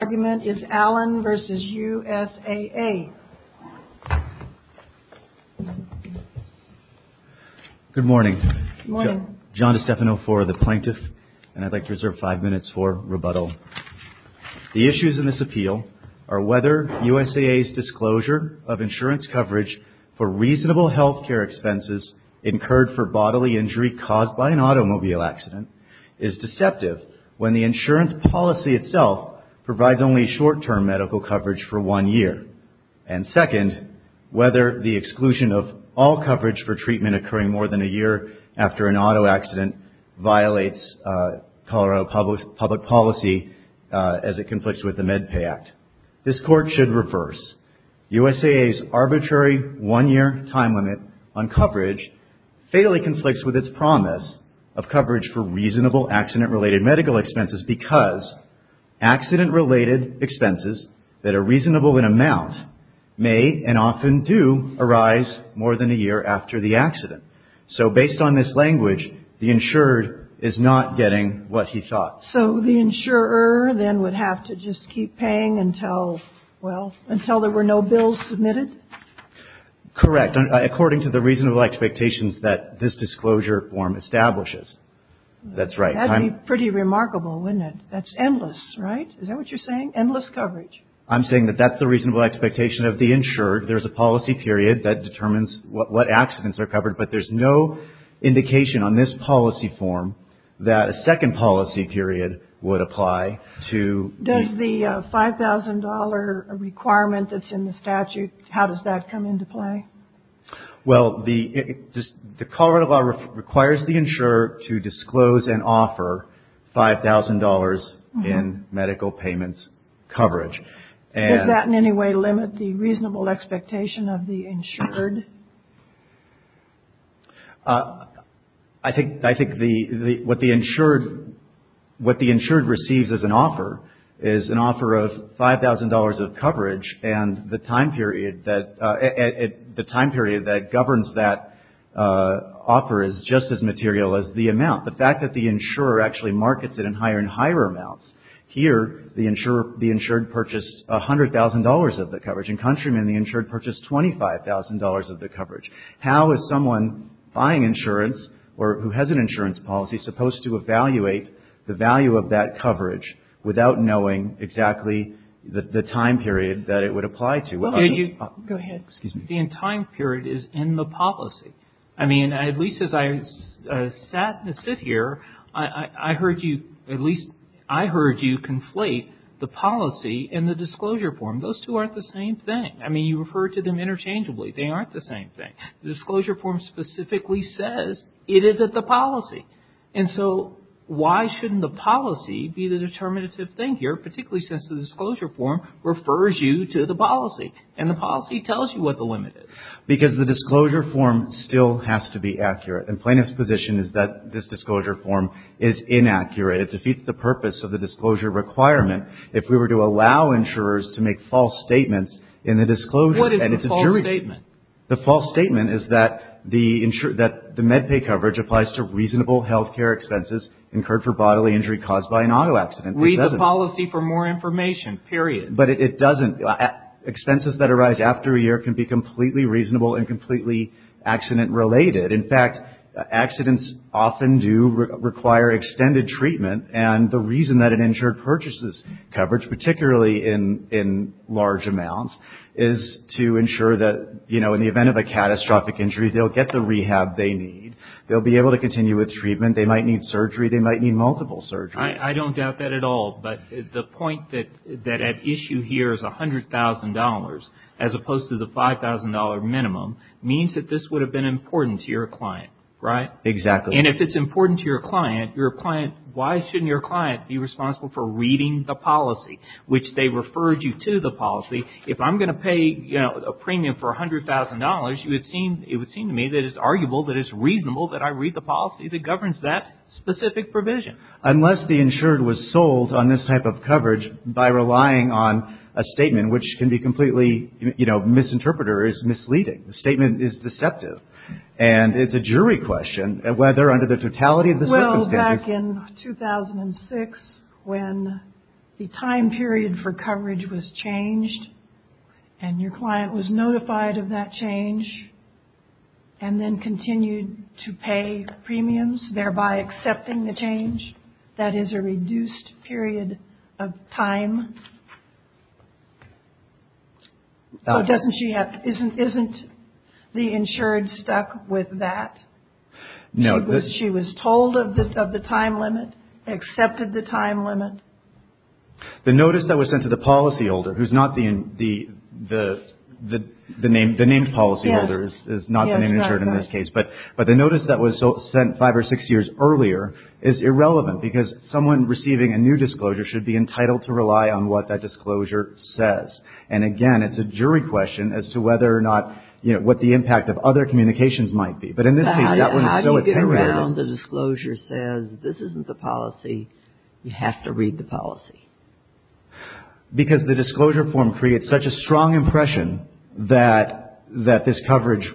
Good morning. John DiStefano IV, the plaintiff, and I'd like to reserve five minutes for rebuttal. The issues in this appeal are whether USAA's disclosure of insurance coverage for reasonable health care expenses incurred for bodily injury caused by an automobile accident is deceptive when the insurance policy itself provides only short-term medical coverage for one year. And second, whether the exclusion of all coverage for treatment occurring more than a year after an auto accident violates Colorado public policy as it conflicts with the MedPay Act. This court should reverse. USAA's arbitrary one-year time limit on coverage fatally conflicts with its promise of coverage for reasonable accident-related medical expenses because accident-related expenses that are reasonable in amount may and often do arise more than a year after the accident. So based on this language, the insured is not getting what he thought. So the insurer then would have to just keep paying until, well, until there were no bills submitted? Correct. According to the reasonable expectations that this disclosure form establishes. That's right. That would be pretty remarkable, wouldn't it? That's endless, right? Is that what you're saying? Endless coverage. I'm saying that that's the reasonable expectation of the insured. There's a policy period that determines what accidents are covered. But there's no indication on this policy form that a second policy period would apply to the ---- How does that come into play? Well, the Colorado law requires the insurer to disclose and offer $5,000 in medical payments coverage. Does that in any way limit the reasonable expectation of the insured? I think what the insured receives as an offer is an offer of $5,000 of coverage and the time period that governs that offer is just as material as the amount. The fact that the insurer actually markets it in higher and higher amounts, here the insured purchased $100,000 of the coverage. And countrymen, the insured purchased $25,000 of the coverage. How is someone buying insurance or who has an insurance policy supposed to evaluate the value of that coverage without knowing exactly the time period that it would apply to? Go ahead. Excuse me. The time period is in the policy. I mean, at least as I sat to sit here, I heard you at least ---- I heard you conflate the policy and the disclosure form. Those two aren't the same thing. I mean, you refer to them interchangeably. They aren't the same thing. The disclosure form specifically says it is at the policy. And so, why shouldn't the policy be the determinative thing here, particularly since the disclosure form refers you to the policy? And the policy tells you what the limit is. Because the disclosure form still has to be accurate. And plaintiff's position is that this disclosure form is inaccurate. It defeats the purpose of the disclosure requirement if we were to allow insurers to make false statements in the disclosure. What is the false statement? The false statement is that the MedPay coverage applies to reasonable health care expenses incurred for bodily injury caused by an auto accident. It doesn't. Read the policy for more information, period. But it doesn't. Expenses that arise after a year can be completely reasonable and completely accident-related. In fact, accidents often do require extended treatment. And the reason that an insurer purchases coverage, particularly in large amounts, is to ensure that, you know, in the event of a catastrophic injury, they'll get the rehab they need. They'll be able to continue with treatment. They might need surgery. They might need multiple surgeries. I don't doubt that at all. But the point that at issue here is $100,000, as opposed to the $5,000 minimum, means that this would have been important to your client. Right? Exactly. And if it's important to your client, your client, why shouldn't your client be responsible for reading the policy, which they referred you to the policy? If I'm going to pay, you know, a premium for $100,000, it would seem to me that it's arguable, that it's reasonable that I read the policy that governs that specific provision. Unless the insured was sold on this type of coverage by relying on a statement, which can be completely, you know, misinterpreter is misleading. The statement is deceptive. And it's a jury question whether under the totality of the circumstances. Back in 2006, when the time period for coverage was changed, and your client was notified of that change, and then continued to pay premiums, thereby accepting the change. That is a reduced period of time. So isn't the insured stuck with that? No. She was told of the time limit, accepted the time limit. The notice that was sent to the policyholder, who's not the named policyholder, is not the named insured in this case. But the notice that was sent five or six years earlier is irrelevant, because someone receiving a new disclosure should be entitled to rely on what that disclosure says. And again, it's a jury question as to whether or not, you know, what the impact of other communications might be. But in this case, that one is so apparent. Now, how do you get around the disclosure says, this isn't the policy, you have to read the policy? Because the disclosure form creates such a strong impression that this coverage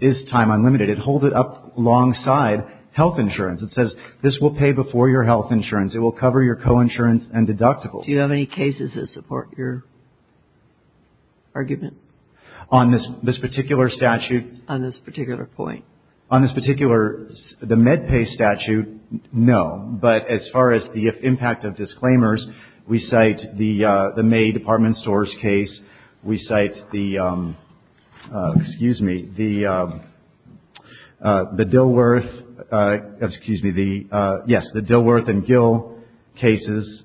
is time unlimited. It holds it up alongside health insurance. It says, this will pay before your health insurance. It will cover your coinsurance and deductibles. Do you have any cases that support your argument? On this particular statute? On this particular point? On this particular, the MedPay statute, no. But as far as the impact of disclaimers, we cite the May Department Stores case. We cite the, excuse me, the Dilworth, excuse me, the, yes, the Dilworth and Gill cases.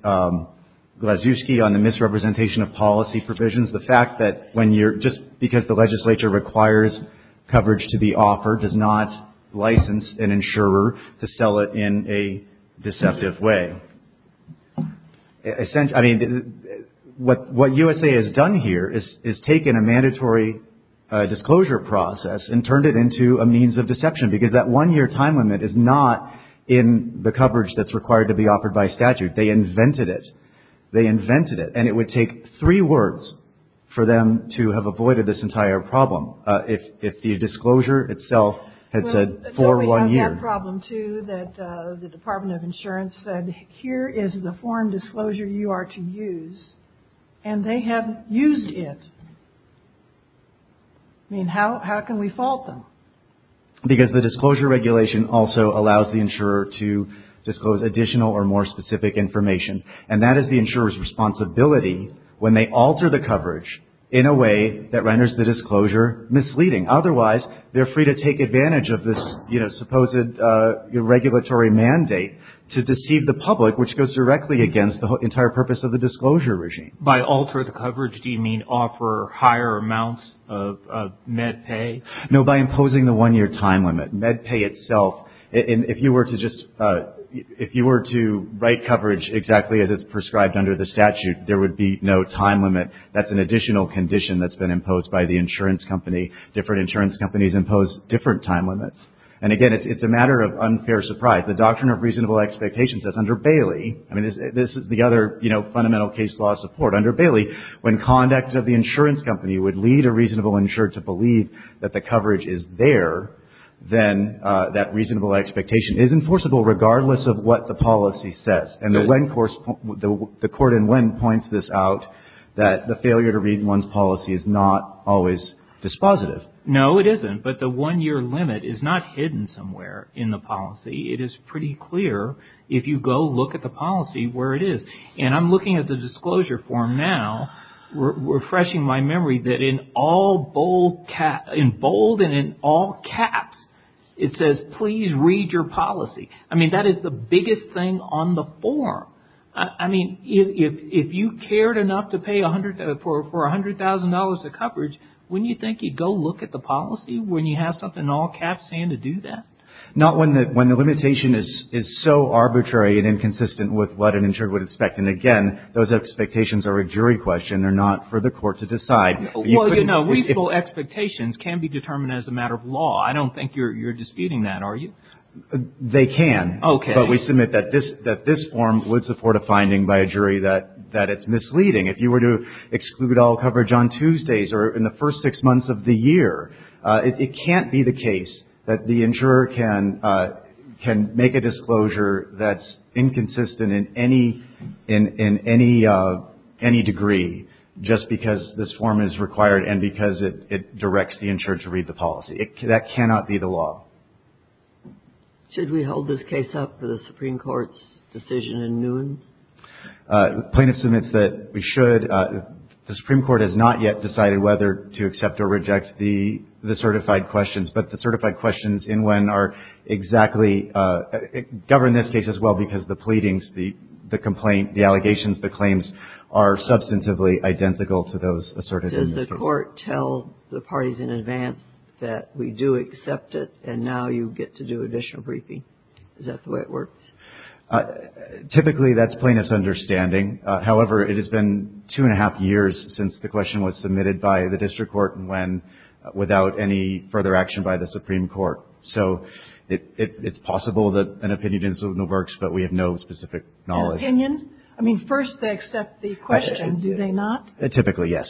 Glazuski on the misrepresentation of policy provisions. The fact that when you're, just because the legislature requires coverage to be offered does not license an insurer to sell it in a deceptive way. I mean, what USA has done here is taken a mandatory disclosure process and turned it into a means of deception. Because that one-year time limit is not in the coverage that's required to be offered by statute. They invented it. They invented it. And it would take three words for them to have avoided this entire problem. If the disclosure itself had said for one year. But we have that problem, too, that the Department of Insurance said, here is the form disclosure you are to use. And they have used it. I mean, how can we fault them? Because the disclosure regulation also allows the insurer to disclose additional or more specific information. And that is the insurer's responsibility when they alter the coverage in a way that renders the disclosure misleading. Otherwise, they're free to take advantage of this, you know, supposed regulatory mandate to deceive the public, which goes directly against the entire purpose of the disclosure regime. By alter the coverage, do you mean offer higher amounts of net pay? No, by imposing the one-year time limit. Net pay itself, if you were to just, if you were to write coverage exactly as it's prescribed under the statute, there would be no time limit. That's an additional condition that's been imposed by the insurance company. Different insurance companies impose different time limits. And, again, it's a matter of unfair surprise. The Doctrine of Reasonable Expectations says under Bailey, I mean, this is the other, you know, fundamental case law support. So under Bailey, when conduct of the insurance company would lead a reasonable insurer to believe that the coverage is there, then that reasonable expectation is enforceable regardless of what the policy says. And the Wen course, the court in Wen points this out, that the failure to read one's policy is not always dispositive. No, it isn't. But the one-year limit is not hidden somewhere in the policy. It is pretty clear if you go look at the policy where it is. And I'm looking at the disclosure form now, refreshing my memory, that in all bold caps, in bold and in all caps, it says please read your policy. I mean, that is the biggest thing on the form. I mean, if you cared enough to pay for $100,000 of coverage, wouldn't you think you'd go look at the policy when you have something in all caps saying to do that? Not when the limitation is so arbitrary and inconsistent with what an insurer would expect. And again, those expectations are a jury question. They're not for the court to decide. Well, you know, reasonable expectations can be determined as a matter of law. I don't think you're disputing that, are you? They can. Okay. But we submit that this form would support a finding by a jury that it's misleading. If you were to exclude all coverage on Tuesdays or in the first six months of the year, it can't be the case that the insurer can make a disclosure that's inconsistent in any degree, just because this form is required and because it directs the insurer to read the policy. That cannot be the law. Should we hold this case up for the Supreme Court's decision in Nguyen? The plaintiff submits that we should. The Supreme Court has not yet decided whether to accept or reject the certified questions. But the certified questions in Nguyen are exactly governed in this case as well because the pleadings, the complaint, the allegations, the claims are substantively identical to those asserted in this case. Does the court tell the parties in advance that we do accept it and now you get to do additional briefing? Is that the way it works? Typically, that's plaintiff's understanding. However, it has been two and a half years since the question was submitted by the district court in Nguyen without any further action by the Supreme Court. So it's possible that an opinion doesn't work, but we have no specific knowledge. An opinion? I mean, first they accept the question, do they not? Typically, yes.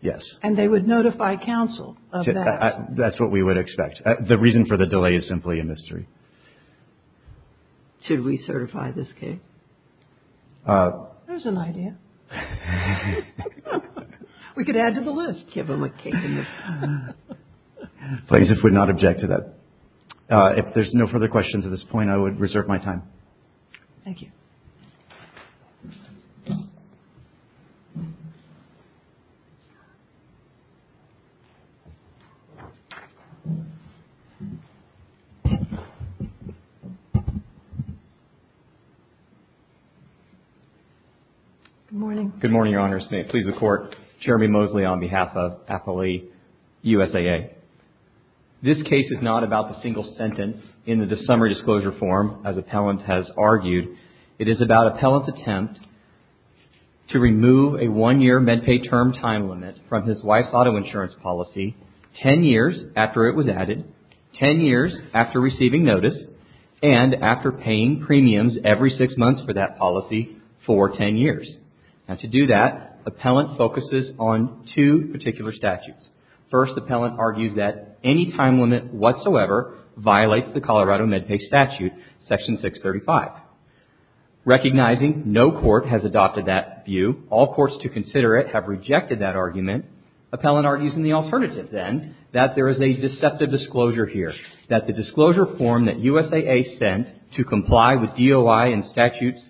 Yes. And they would notify counsel of that? That's what we would expect. The reason for the delay is simply a mystery. Should we certify this case? There's an idea. We could add to the list. Give them a cake and a pie. Plaintiffs would not object to that. If there's no further questions at this point, I would reserve my time. Thank you. Good morning. Good morning, Your Honors. May it please the Court. Jeremy Mosley on behalf of Appellee USAA. This case is not about the single sentence in the summary disclosure form, as appellant has argued. It is about appellant's attempt to remove a one-year MedPay term time limit from his wife's auto insurance policy ten years after it was added, ten years after receiving notice, and after paying premiums every six months for that policy for ten years. And to do that, appellant focuses on two particular statutes. First, appellant argues that any time limit whatsoever violates the Colorado MedPay statute, Section 635. Recognizing no court has adopted that view, all courts to consider it have rejected that argument, appellant argues in the alternative, then, that there is a deceptive disclosure here, that the disclosure form that USAA sent to comply with DOI and statutes,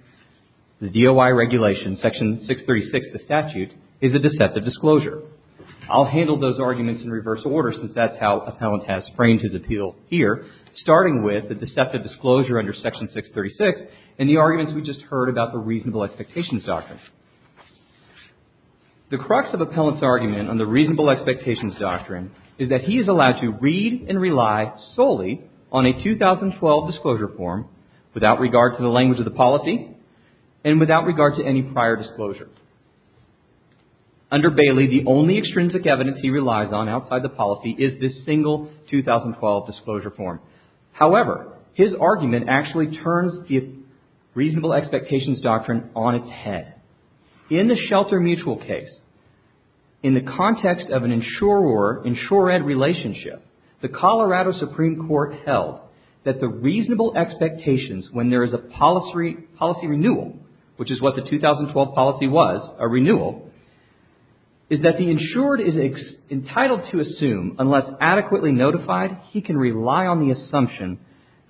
the DOI regulations, Section 636 of the statute, is a deceptive disclosure. I'll handle those arguments in reverse order, since that's how appellant has framed his appeal here, starting with the deceptive disclosure under Section 636 and the arguments we just heard about the reasonable expectations doctrine. The crux of appellant's argument on the reasonable expectations doctrine is that he is allowed to read and rely solely on a 2012 disclosure form without regard to the language of the policy and without regard to any prior disclosure. Under Bailey, the only extrinsic evidence he relies on outside the policy is this single 2012 disclosure form. However, his argument actually turns the reasonable expectations doctrine on its head. In the Shelter Mutual case, in the context of an insurer-ed relationship, the Colorado Supreme Court held that the reasonable expectations when there is a policy renewal, which is what the 2012 policy was, a renewal, is that the insured is entitled to assume, unless adequately notified, he can rely on the assumption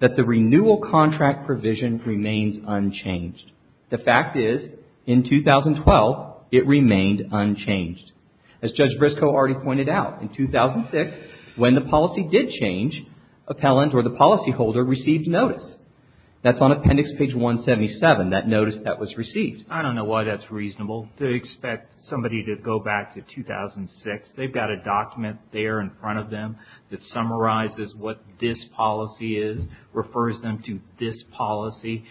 that the renewal contract provision remains unchanged. The fact is, in 2012, it remained unchanged. As Judge Briscoe already pointed out, in 2006, when the policy did change, appellant or the policyholder received notice. That's on appendix page 177, that notice that was received. I don't know why that's reasonable to expect somebody to go back to 2006. They've got a document there in front of them that summarizes what this policy is, refers them to this policy.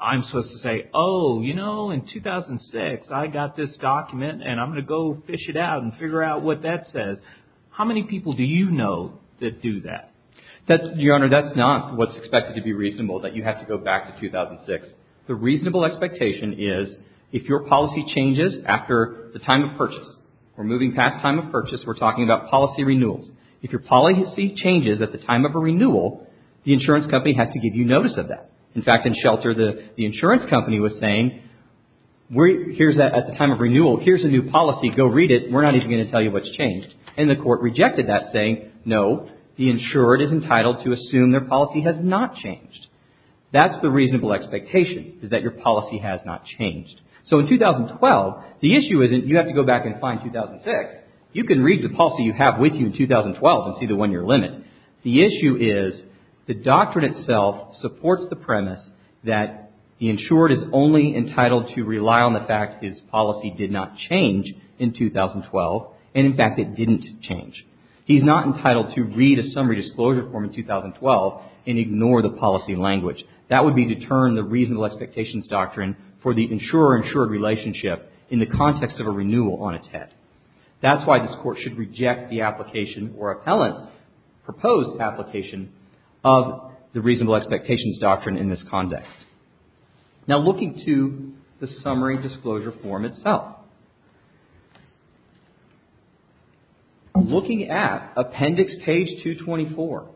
I'm supposed to say, oh, you know, in 2006, I got this document and I'm going to go fish it out and figure out what that says. How many people do you know that do that? Your Honor, that's not what's expected to be reasonable, that you have to go back to 2006. The reasonable expectation is if your policy changes after the time of purchase or moving past time of purchase, we're talking about policy renewals. If your policy changes at the time of a renewal, the insurance company has to give you notice of that. In fact, in Shelter, the insurance company was saying, here's that at the time of renewal, here's a new policy, go read it, we're not even going to tell you what's changed. And the court rejected that saying, no, the insured is entitled to assume their policy has not changed. That's the reasonable expectation is that your policy has not changed. So in 2012, the issue isn't you have to go back and find 2006. You can read the policy you have with you in 2012 and see the one year limit. The issue is the doctrine itself supports the premise that the insured is only entitled to rely on the fact that his policy did not change in 2012. And in fact, it didn't change. He's not entitled to read a summary disclosure form in 2012 and ignore the policy language. That would be to turn the reasonable expectations doctrine for the insurer-insured relationship in the context of a renewal on its head. That's why this Court should reject the application or appellant's proposed application of the reasonable expectations doctrine in this context. Now, looking to the summary disclosure form itself, looking at Appendix Page 224,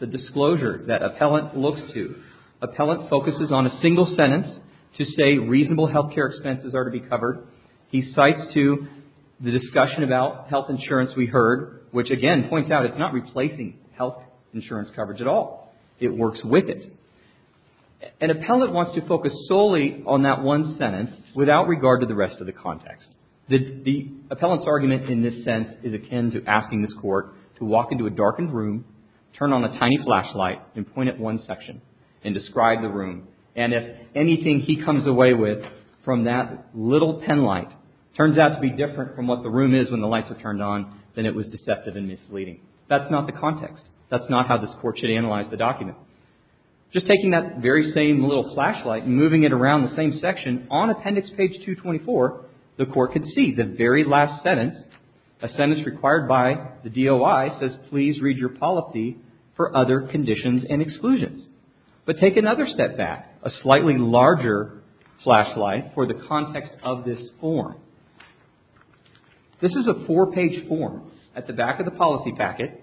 the disclosure that appellant looks to, appellant focuses on a single sentence to say reasonable health care expenses are to be covered. He cites to the discussion about health insurance we heard, which again points out it's not replacing health insurance coverage at all. It works with it. An appellant wants to focus solely on that one sentence without regard to the rest of the context. The appellant's argument in this sense is akin to asking this Court to walk into a darkened room, turn on a tiny flashlight, and point at one section and describe the room. And if anything he comes away with from that little penlight turns out to be different from what the room is when the lights are turned on, then it was deceptive and misleading. That's not the context. That's not how this Court should analyze the document. Why? Just taking that very same little flashlight and moving it around the same section, on Appendix Page 224, the Court can see the very last sentence, a sentence required by the DOI says please read your policy for other conditions and exclusions. But take another step back, a slightly larger flashlight for the context of this form. This is a four-page form at the back of the policy packet.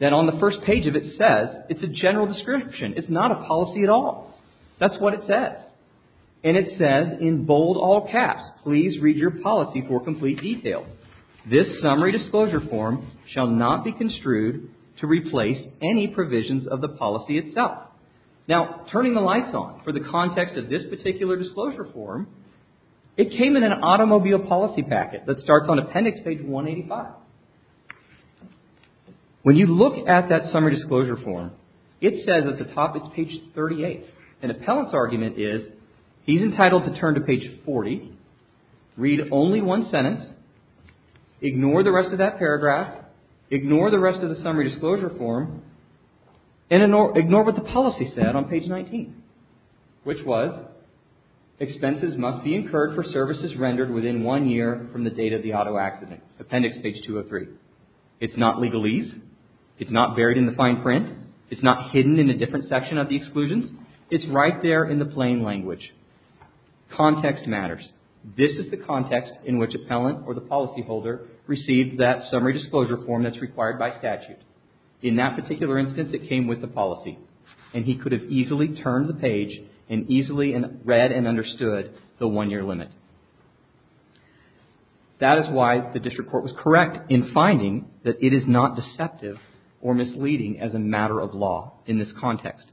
Then on the first page of it says it's a general description. It's not a policy at all. That's what it says. And it says in bold all caps, please read your policy for complete details. This summary disclosure form shall not be construed to replace any provisions of the policy itself. Now, turning the lights on for the context of this particular disclosure form, it came in an automobile policy packet that starts on Appendix Page 185. When you look at that summary disclosure form, it says at the top it's Page 38. An appellant's argument is he's entitled to turn to Page 40, read only one sentence, ignore the rest of that paragraph, ignore the rest of the summary disclosure form, and ignore what the policy said on Page 19, which was expenses must be incurred for services rendered within one year from the date of the auto accident, Appendix Page 203. It's not legalese. It's not buried in the fine print. It's not hidden in a different section of the exclusions. It's right there in the plain language. Context matters. This is the context in which appellant or the policyholder received that summary disclosure form that's required by statute. In that particular instance, it came with the policy, and he could have easily turned the page and easily read and understood the one-year limit. That is why the district court was correct in finding that it is not deceptive or misleading as a matter of law in this context.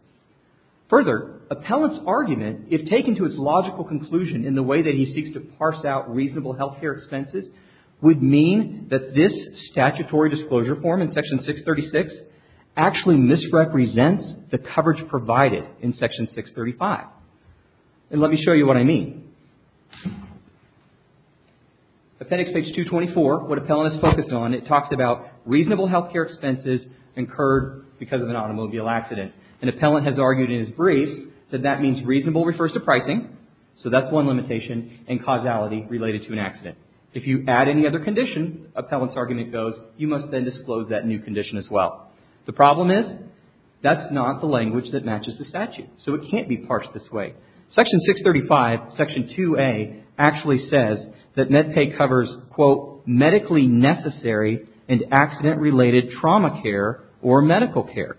Further, appellant's argument, if taken to its logical conclusion in the way that he seeks to parse out reasonable health care expenses, would mean that this statutory disclosure form in Section 636 actually misrepresents the coverage provided in Section 635. And let me show you what I mean. Appendix Page 224, what appellant is focused on, it talks about reasonable health care expenses incurred because of an automobile accident. An appellant has argued in his briefs that that means reasonable refers to pricing, If you add any other condition, appellant's argument goes, you must then disclose that new condition as well. The problem is, that's not the language that matches the statute. So it can't be parsed this way. Section 635, Section 2A, actually says that MedPay covers, quote, medically necessary and accident-related trauma care or medical care.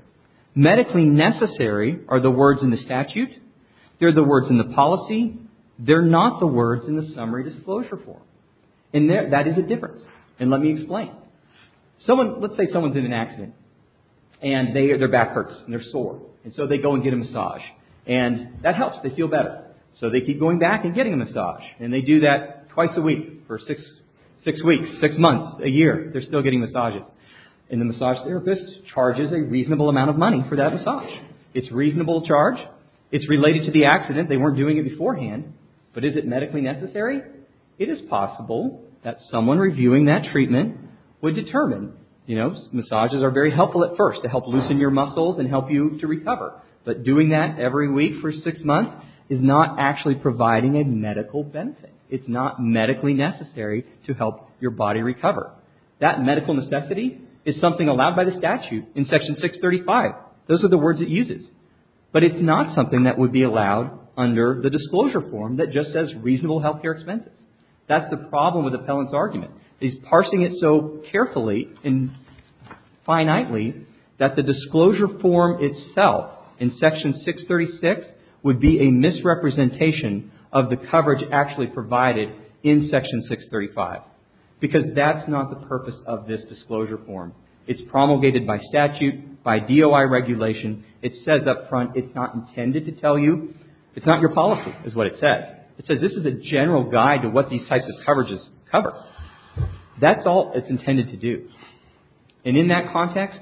Medically necessary are the words in the statute. They're the words in the policy. They're not the words in the summary disclosure form. And that is a difference. And let me explain. Let's say someone's in an accident and their back hurts and they're sore. And so they go and get a massage. And that helps. They feel better. So they keep going back and getting a massage. And they do that twice a week for six weeks, six months, a year. They're still getting massages. And the massage therapist charges a reasonable amount of money for that massage. It's a reasonable charge. It's related to the accident. They weren't doing it beforehand. But is it medically necessary? It is possible that someone reviewing that treatment would determine, you know, massages are very helpful at first to help loosen your muscles and help you to recover. But doing that every week for six months is not actually providing a medical benefit. It's not medically necessary to help your body recover. That medical necessity is something allowed by the statute in Section 635. Those are the words it uses. But it's not something that would be allowed under the disclosure form that just says reasonable health care expenses. That's the problem with Appellant's argument. He's parsing it so carefully and finitely that the disclosure form itself in Section 636 would be a misrepresentation of the coverage actually provided in Section 635. Because that's not the purpose of this disclosure form. It's promulgated by statute, by DOI regulation. It says up front it's not intended to tell you. It's not your policy is what it says. It says this is a general guide to what these types of coverages cover. That's all it's intended to do. And in that context,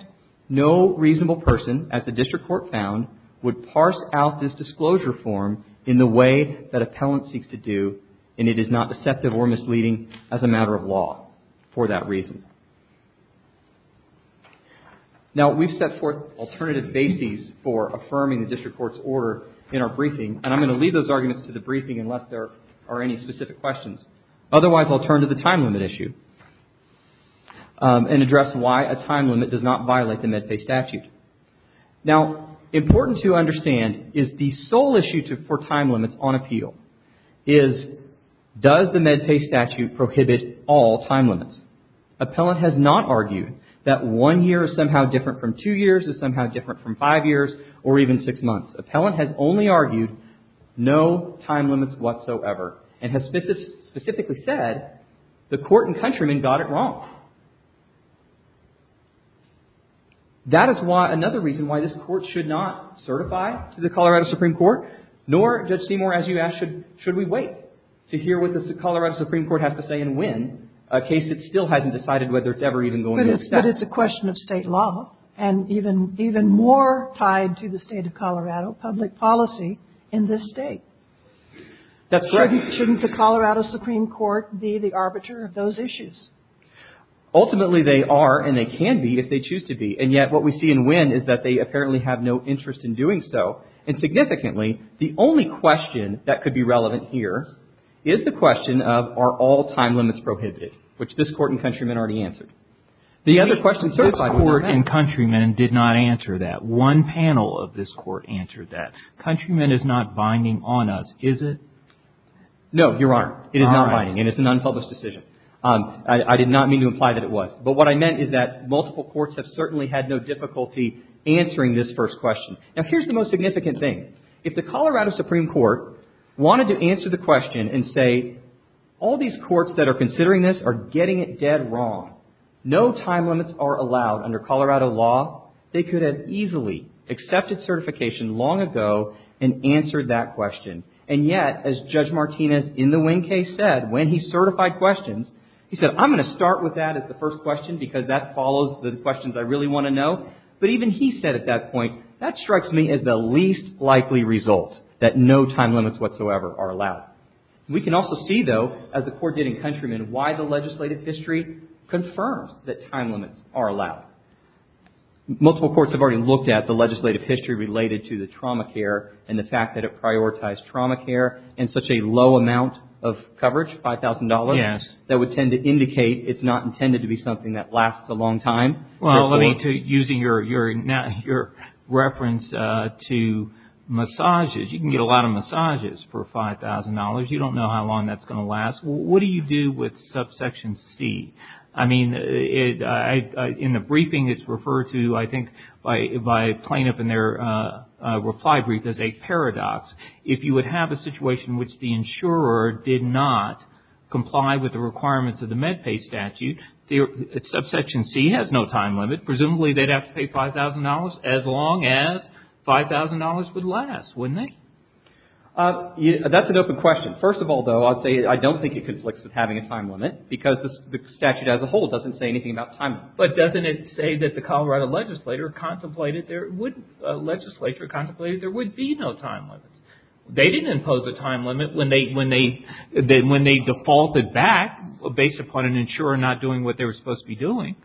no reasonable person, as the district court found, would parse out this disclosure form in the way that Appellant seeks to do and it is not deceptive or misleading as a matter of law for that reason. Now, we've set forth alternative bases for affirming the district court's order in our briefing and I'm going to leave those arguments to the briefing unless there are any specific questions. Otherwise, I'll turn to the time limit issue and address why a time limit does not violate the MedPay statute. Now, important to understand is the sole issue for time limits on appeal is does the MedPay statute prohibit all time limits? Appellant has not argued that one year is somehow different from two years, is somehow different from five years or even six months. Appellant has only argued no time limits whatsoever and has specifically said the court and countrymen got it wrong. That is another reason why this court should not certify to the Colorado Supreme Court nor, Judge Seymour, as you asked, should we wait to hear what the Colorado Supreme Court has to say a case that still hasn't decided whether it's ever even going to accept. But it's a question of state law and even more tied to the state of Colorado, public policy in this state. That's right. Shouldn't the Colorado Supreme Court be the arbiter of those issues? Ultimately, they are and they can be if they choose to be and yet what we see in Winn is that they apparently have no interest in doing so and significantly the only question that could be relevant here is the question of are all time limits prohibited, which this court and countrymen already answered. The other question, this court and countrymen did not answer that. One panel of this court answered that. Countrymen is not binding on us, is it? No, Your Honor. It is not binding and it's an unpublished decision. I did not mean to imply that it was. But what I meant is that multiple courts have certainly had no difficulty answering this first question. Now, here's the most significant thing. If the Colorado Supreme Court wanted to answer the question and say all these courts that are considering this are getting it dead wrong, no time limits are allowed under Colorado law, they could have easily accepted certification long ago and answered that question. And yet, as Judge Martinez in the Winn case said when he certified questions, he said I'm going to start with that as the first question because that follows the questions I really want to know. But even he said at that point, that strikes me as the least likely result, that no time limits whatsoever are allowed. We can also see, though, as the court did in countrymen, why the legislative history confirms that time limits are allowed. Multiple courts have already looked at the legislative history related to the trauma care and the fact that it prioritized trauma care in such a low amount of coverage, $5,000, that would tend to indicate it's not intended to be something that lasts a long time. Well, using your reference to massages, you can get a lot of massages for $5,000. You don't know how long that's going to last. What do you do with subsection C? I mean, in the briefing it's referred to, I think, by plaintiff in their reply brief as a paradox. If you would have a situation in which the insurer did not comply with the requirements of the MedPay statute, the subsection C has no time limit. Presumably they'd have to pay $5,000 as long as $5,000 would last, wouldn't they? That's an open question. First of all, though, I don't think it conflicts with having a time limit because the statute as a whole doesn't say anything about time limits. But doesn't it say that the Colorado legislature contemplated there would be no time limits? They didn't impose a time limit when they defaulted back based upon an insurer not doing what they were supposed to be doing.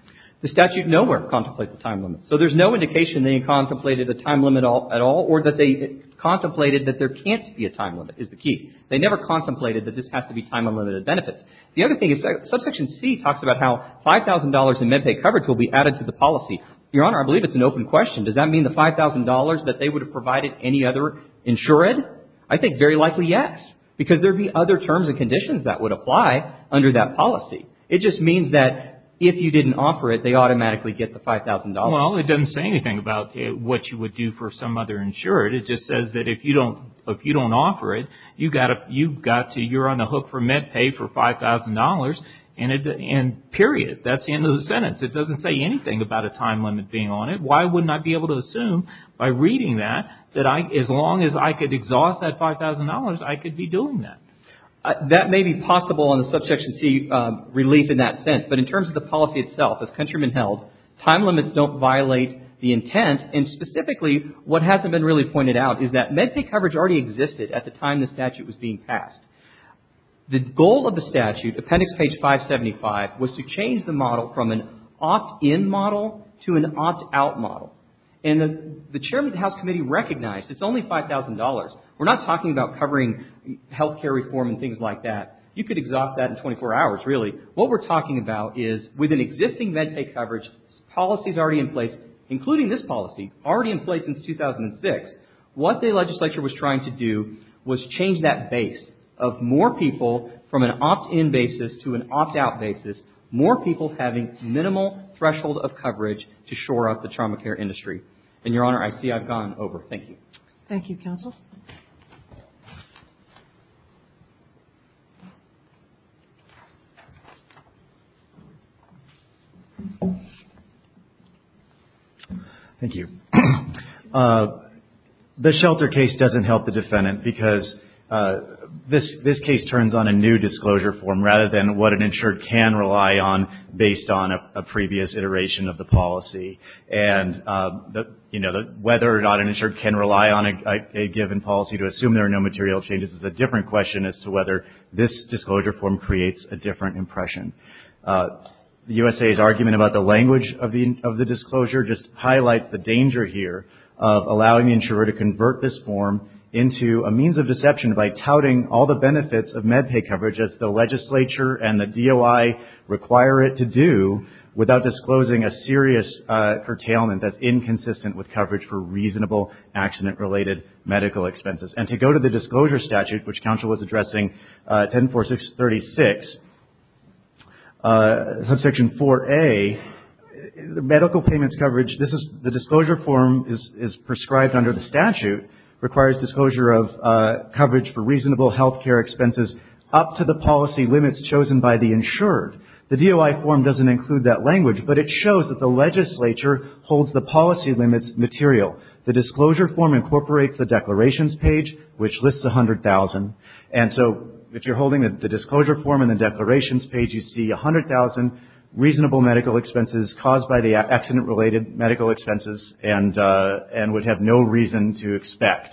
The statute nowhere contemplates a time limit. So there's no indication they contemplated a time limit at all or that they contemplated that there can't be a time limit is the key. They never contemplated that this has to be time unlimited benefits. The other thing is subsection C talks about how $5,000 in MedPay coverage will be added to the policy. Your Honor, I believe it's an open question. Does that mean the $5,000 that they would have provided any other insured? I think very likely yes because there would be other terms and conditions that would apply under that policy. It just means that if you didn't offer it, they automatically get the $5,000. Well, it doesn't say anything about what you would do for some other insured. It just says that if you don't offer it, you're on a hook for MedPay for $5,000 and period. That's the end of the sentence. It doesn't say anything about a time limit being on it. Why wouldn't I be able to assume by reading that that as long as I could exhaust that $5,000, I could be doing that? That may be possible on the subsection C relief in that sense. But in terms of the policy itself, as Countryman held, time limits don't violate the intent. And specifically, what hasn't been really pointed out is that MedPay coverage already existed at the time the statute was being passed. The goal of the statute, appendix page 575, was to change the model from an opt-in model to an opt-out model. And the Chairman of the House Committee recognized it's only $5,000. We're not talking about covering health care reform and things like that. You could exhaust that in 24 hours, really. What we're talking about is with an existing MedPay coverage, policies already in place, including this policy, already in place since 2006, what the legislature was trying to do was change that base of more people from an opt-in basis to an opt-out basis, more people having minimal threshold of coverage to shore up the trauma care industry. And, Your Honor, I see I've gone over. Thank you. Thank you, Counsel. Thank you. The shelter case doesn't help the defendant because this case turns on a new disclosure form rather than what an insured can rely on based on a previous iteration of the policy. And, you know, whether or not an insured can rely on a given policy to assume there are no material changes is a different question as to whether this disclosure form creates a different impression. The USA's argument about the language of the disclosure just highlights the danger here of allowing the insurer to convert this form into a means of deception by touting all the benefits of MedPay coverage as the legislature and the DOI require it to do without disclosing a serious curtailment that's inconsistent with coverage for reasonable accident-related medical expenses. And to go to the disclosure statute, which Counsel was addressing, 104636, Subsection 4A, medical payments coverage, this is the disclosure form is prescribed under the statute, requires disclosure of coverage for reasonable health care expenses up to the policy limits chosen by the insured. The DOI form doesn't include that language, but it shows that the legislature holds the policy limits material. The disclosure form incorporates the declarations page, which lists 100,000. And so if you're holding the disclosure form and the declarations page, you see 100,000 reasonable medical expenses caused by the accident-related medical expenses and would have no reason to expect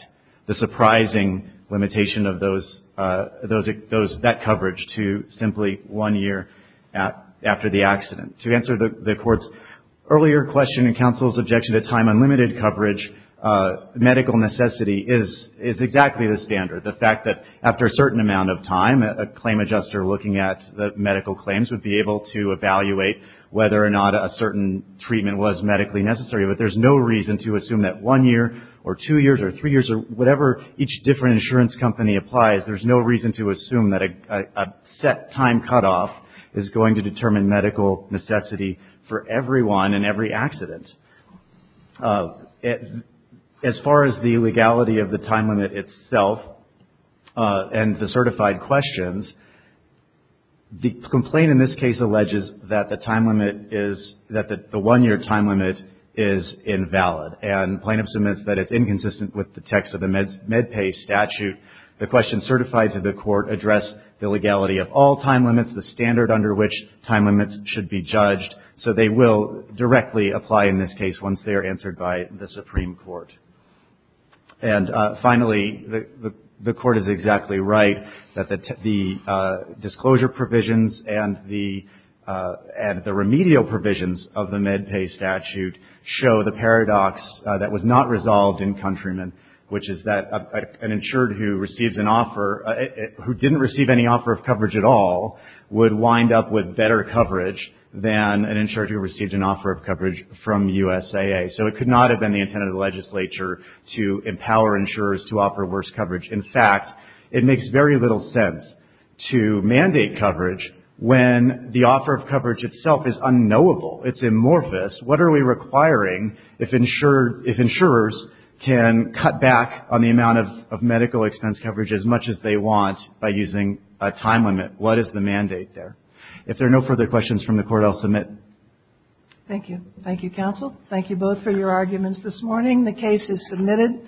the surprising limitation of that coverage to simply one year after the accident. To answer the Court's earlier question and Counsel's objection to time-unlimited coverage, medical necessity is exactly the standard. The fact that after a certain amount of time, a claim adjuster looking at the medical claims would be able to evaluate whether or not a certain treatment was medically necessary. But there's no reason to assume that one year or two years or three years or whatever each different insurance company applies, there's no reason to assume that a set time cutoff is going to determine medical necessity for everyone in every accident. As far as the legality of the time limit itself and the certified questions, the complaint in this case alleges that the one-year time limit is invalid and plaintiff submits that it's inconsistent with the text of the MedPay statute. The questions certified to the Court address the legality of all time limits, the standard under which time limits should be judged, so they will directly apply in this case once they are answered by the Supreme Court. And finally, the Court is exactly right that the disclosure provisions and the remedial provisions of the MedPay statute show the paradox that was not resolved in Countryman, which is that an insured who receives an offer, who didn't receive any offer of coverage at all, would wind up with better coverage than an insured who received an offer of coverage from USAA. So it could not have been the intent of the legislature to empower insurers to offer worse coverage. In fact, it makes very little sense to mandate coverage when the offer of coverage itself is unknowable. It's amorphous. What are we requiring if insurers can cut back on the amount of medical expense coverage as much as they want by using a time limit? What is the mandate there? If there are no further questions from the Court, I'll submit. Thank you. Thank you, counsel. Thank you both for your arguments this morning. The case is submitted.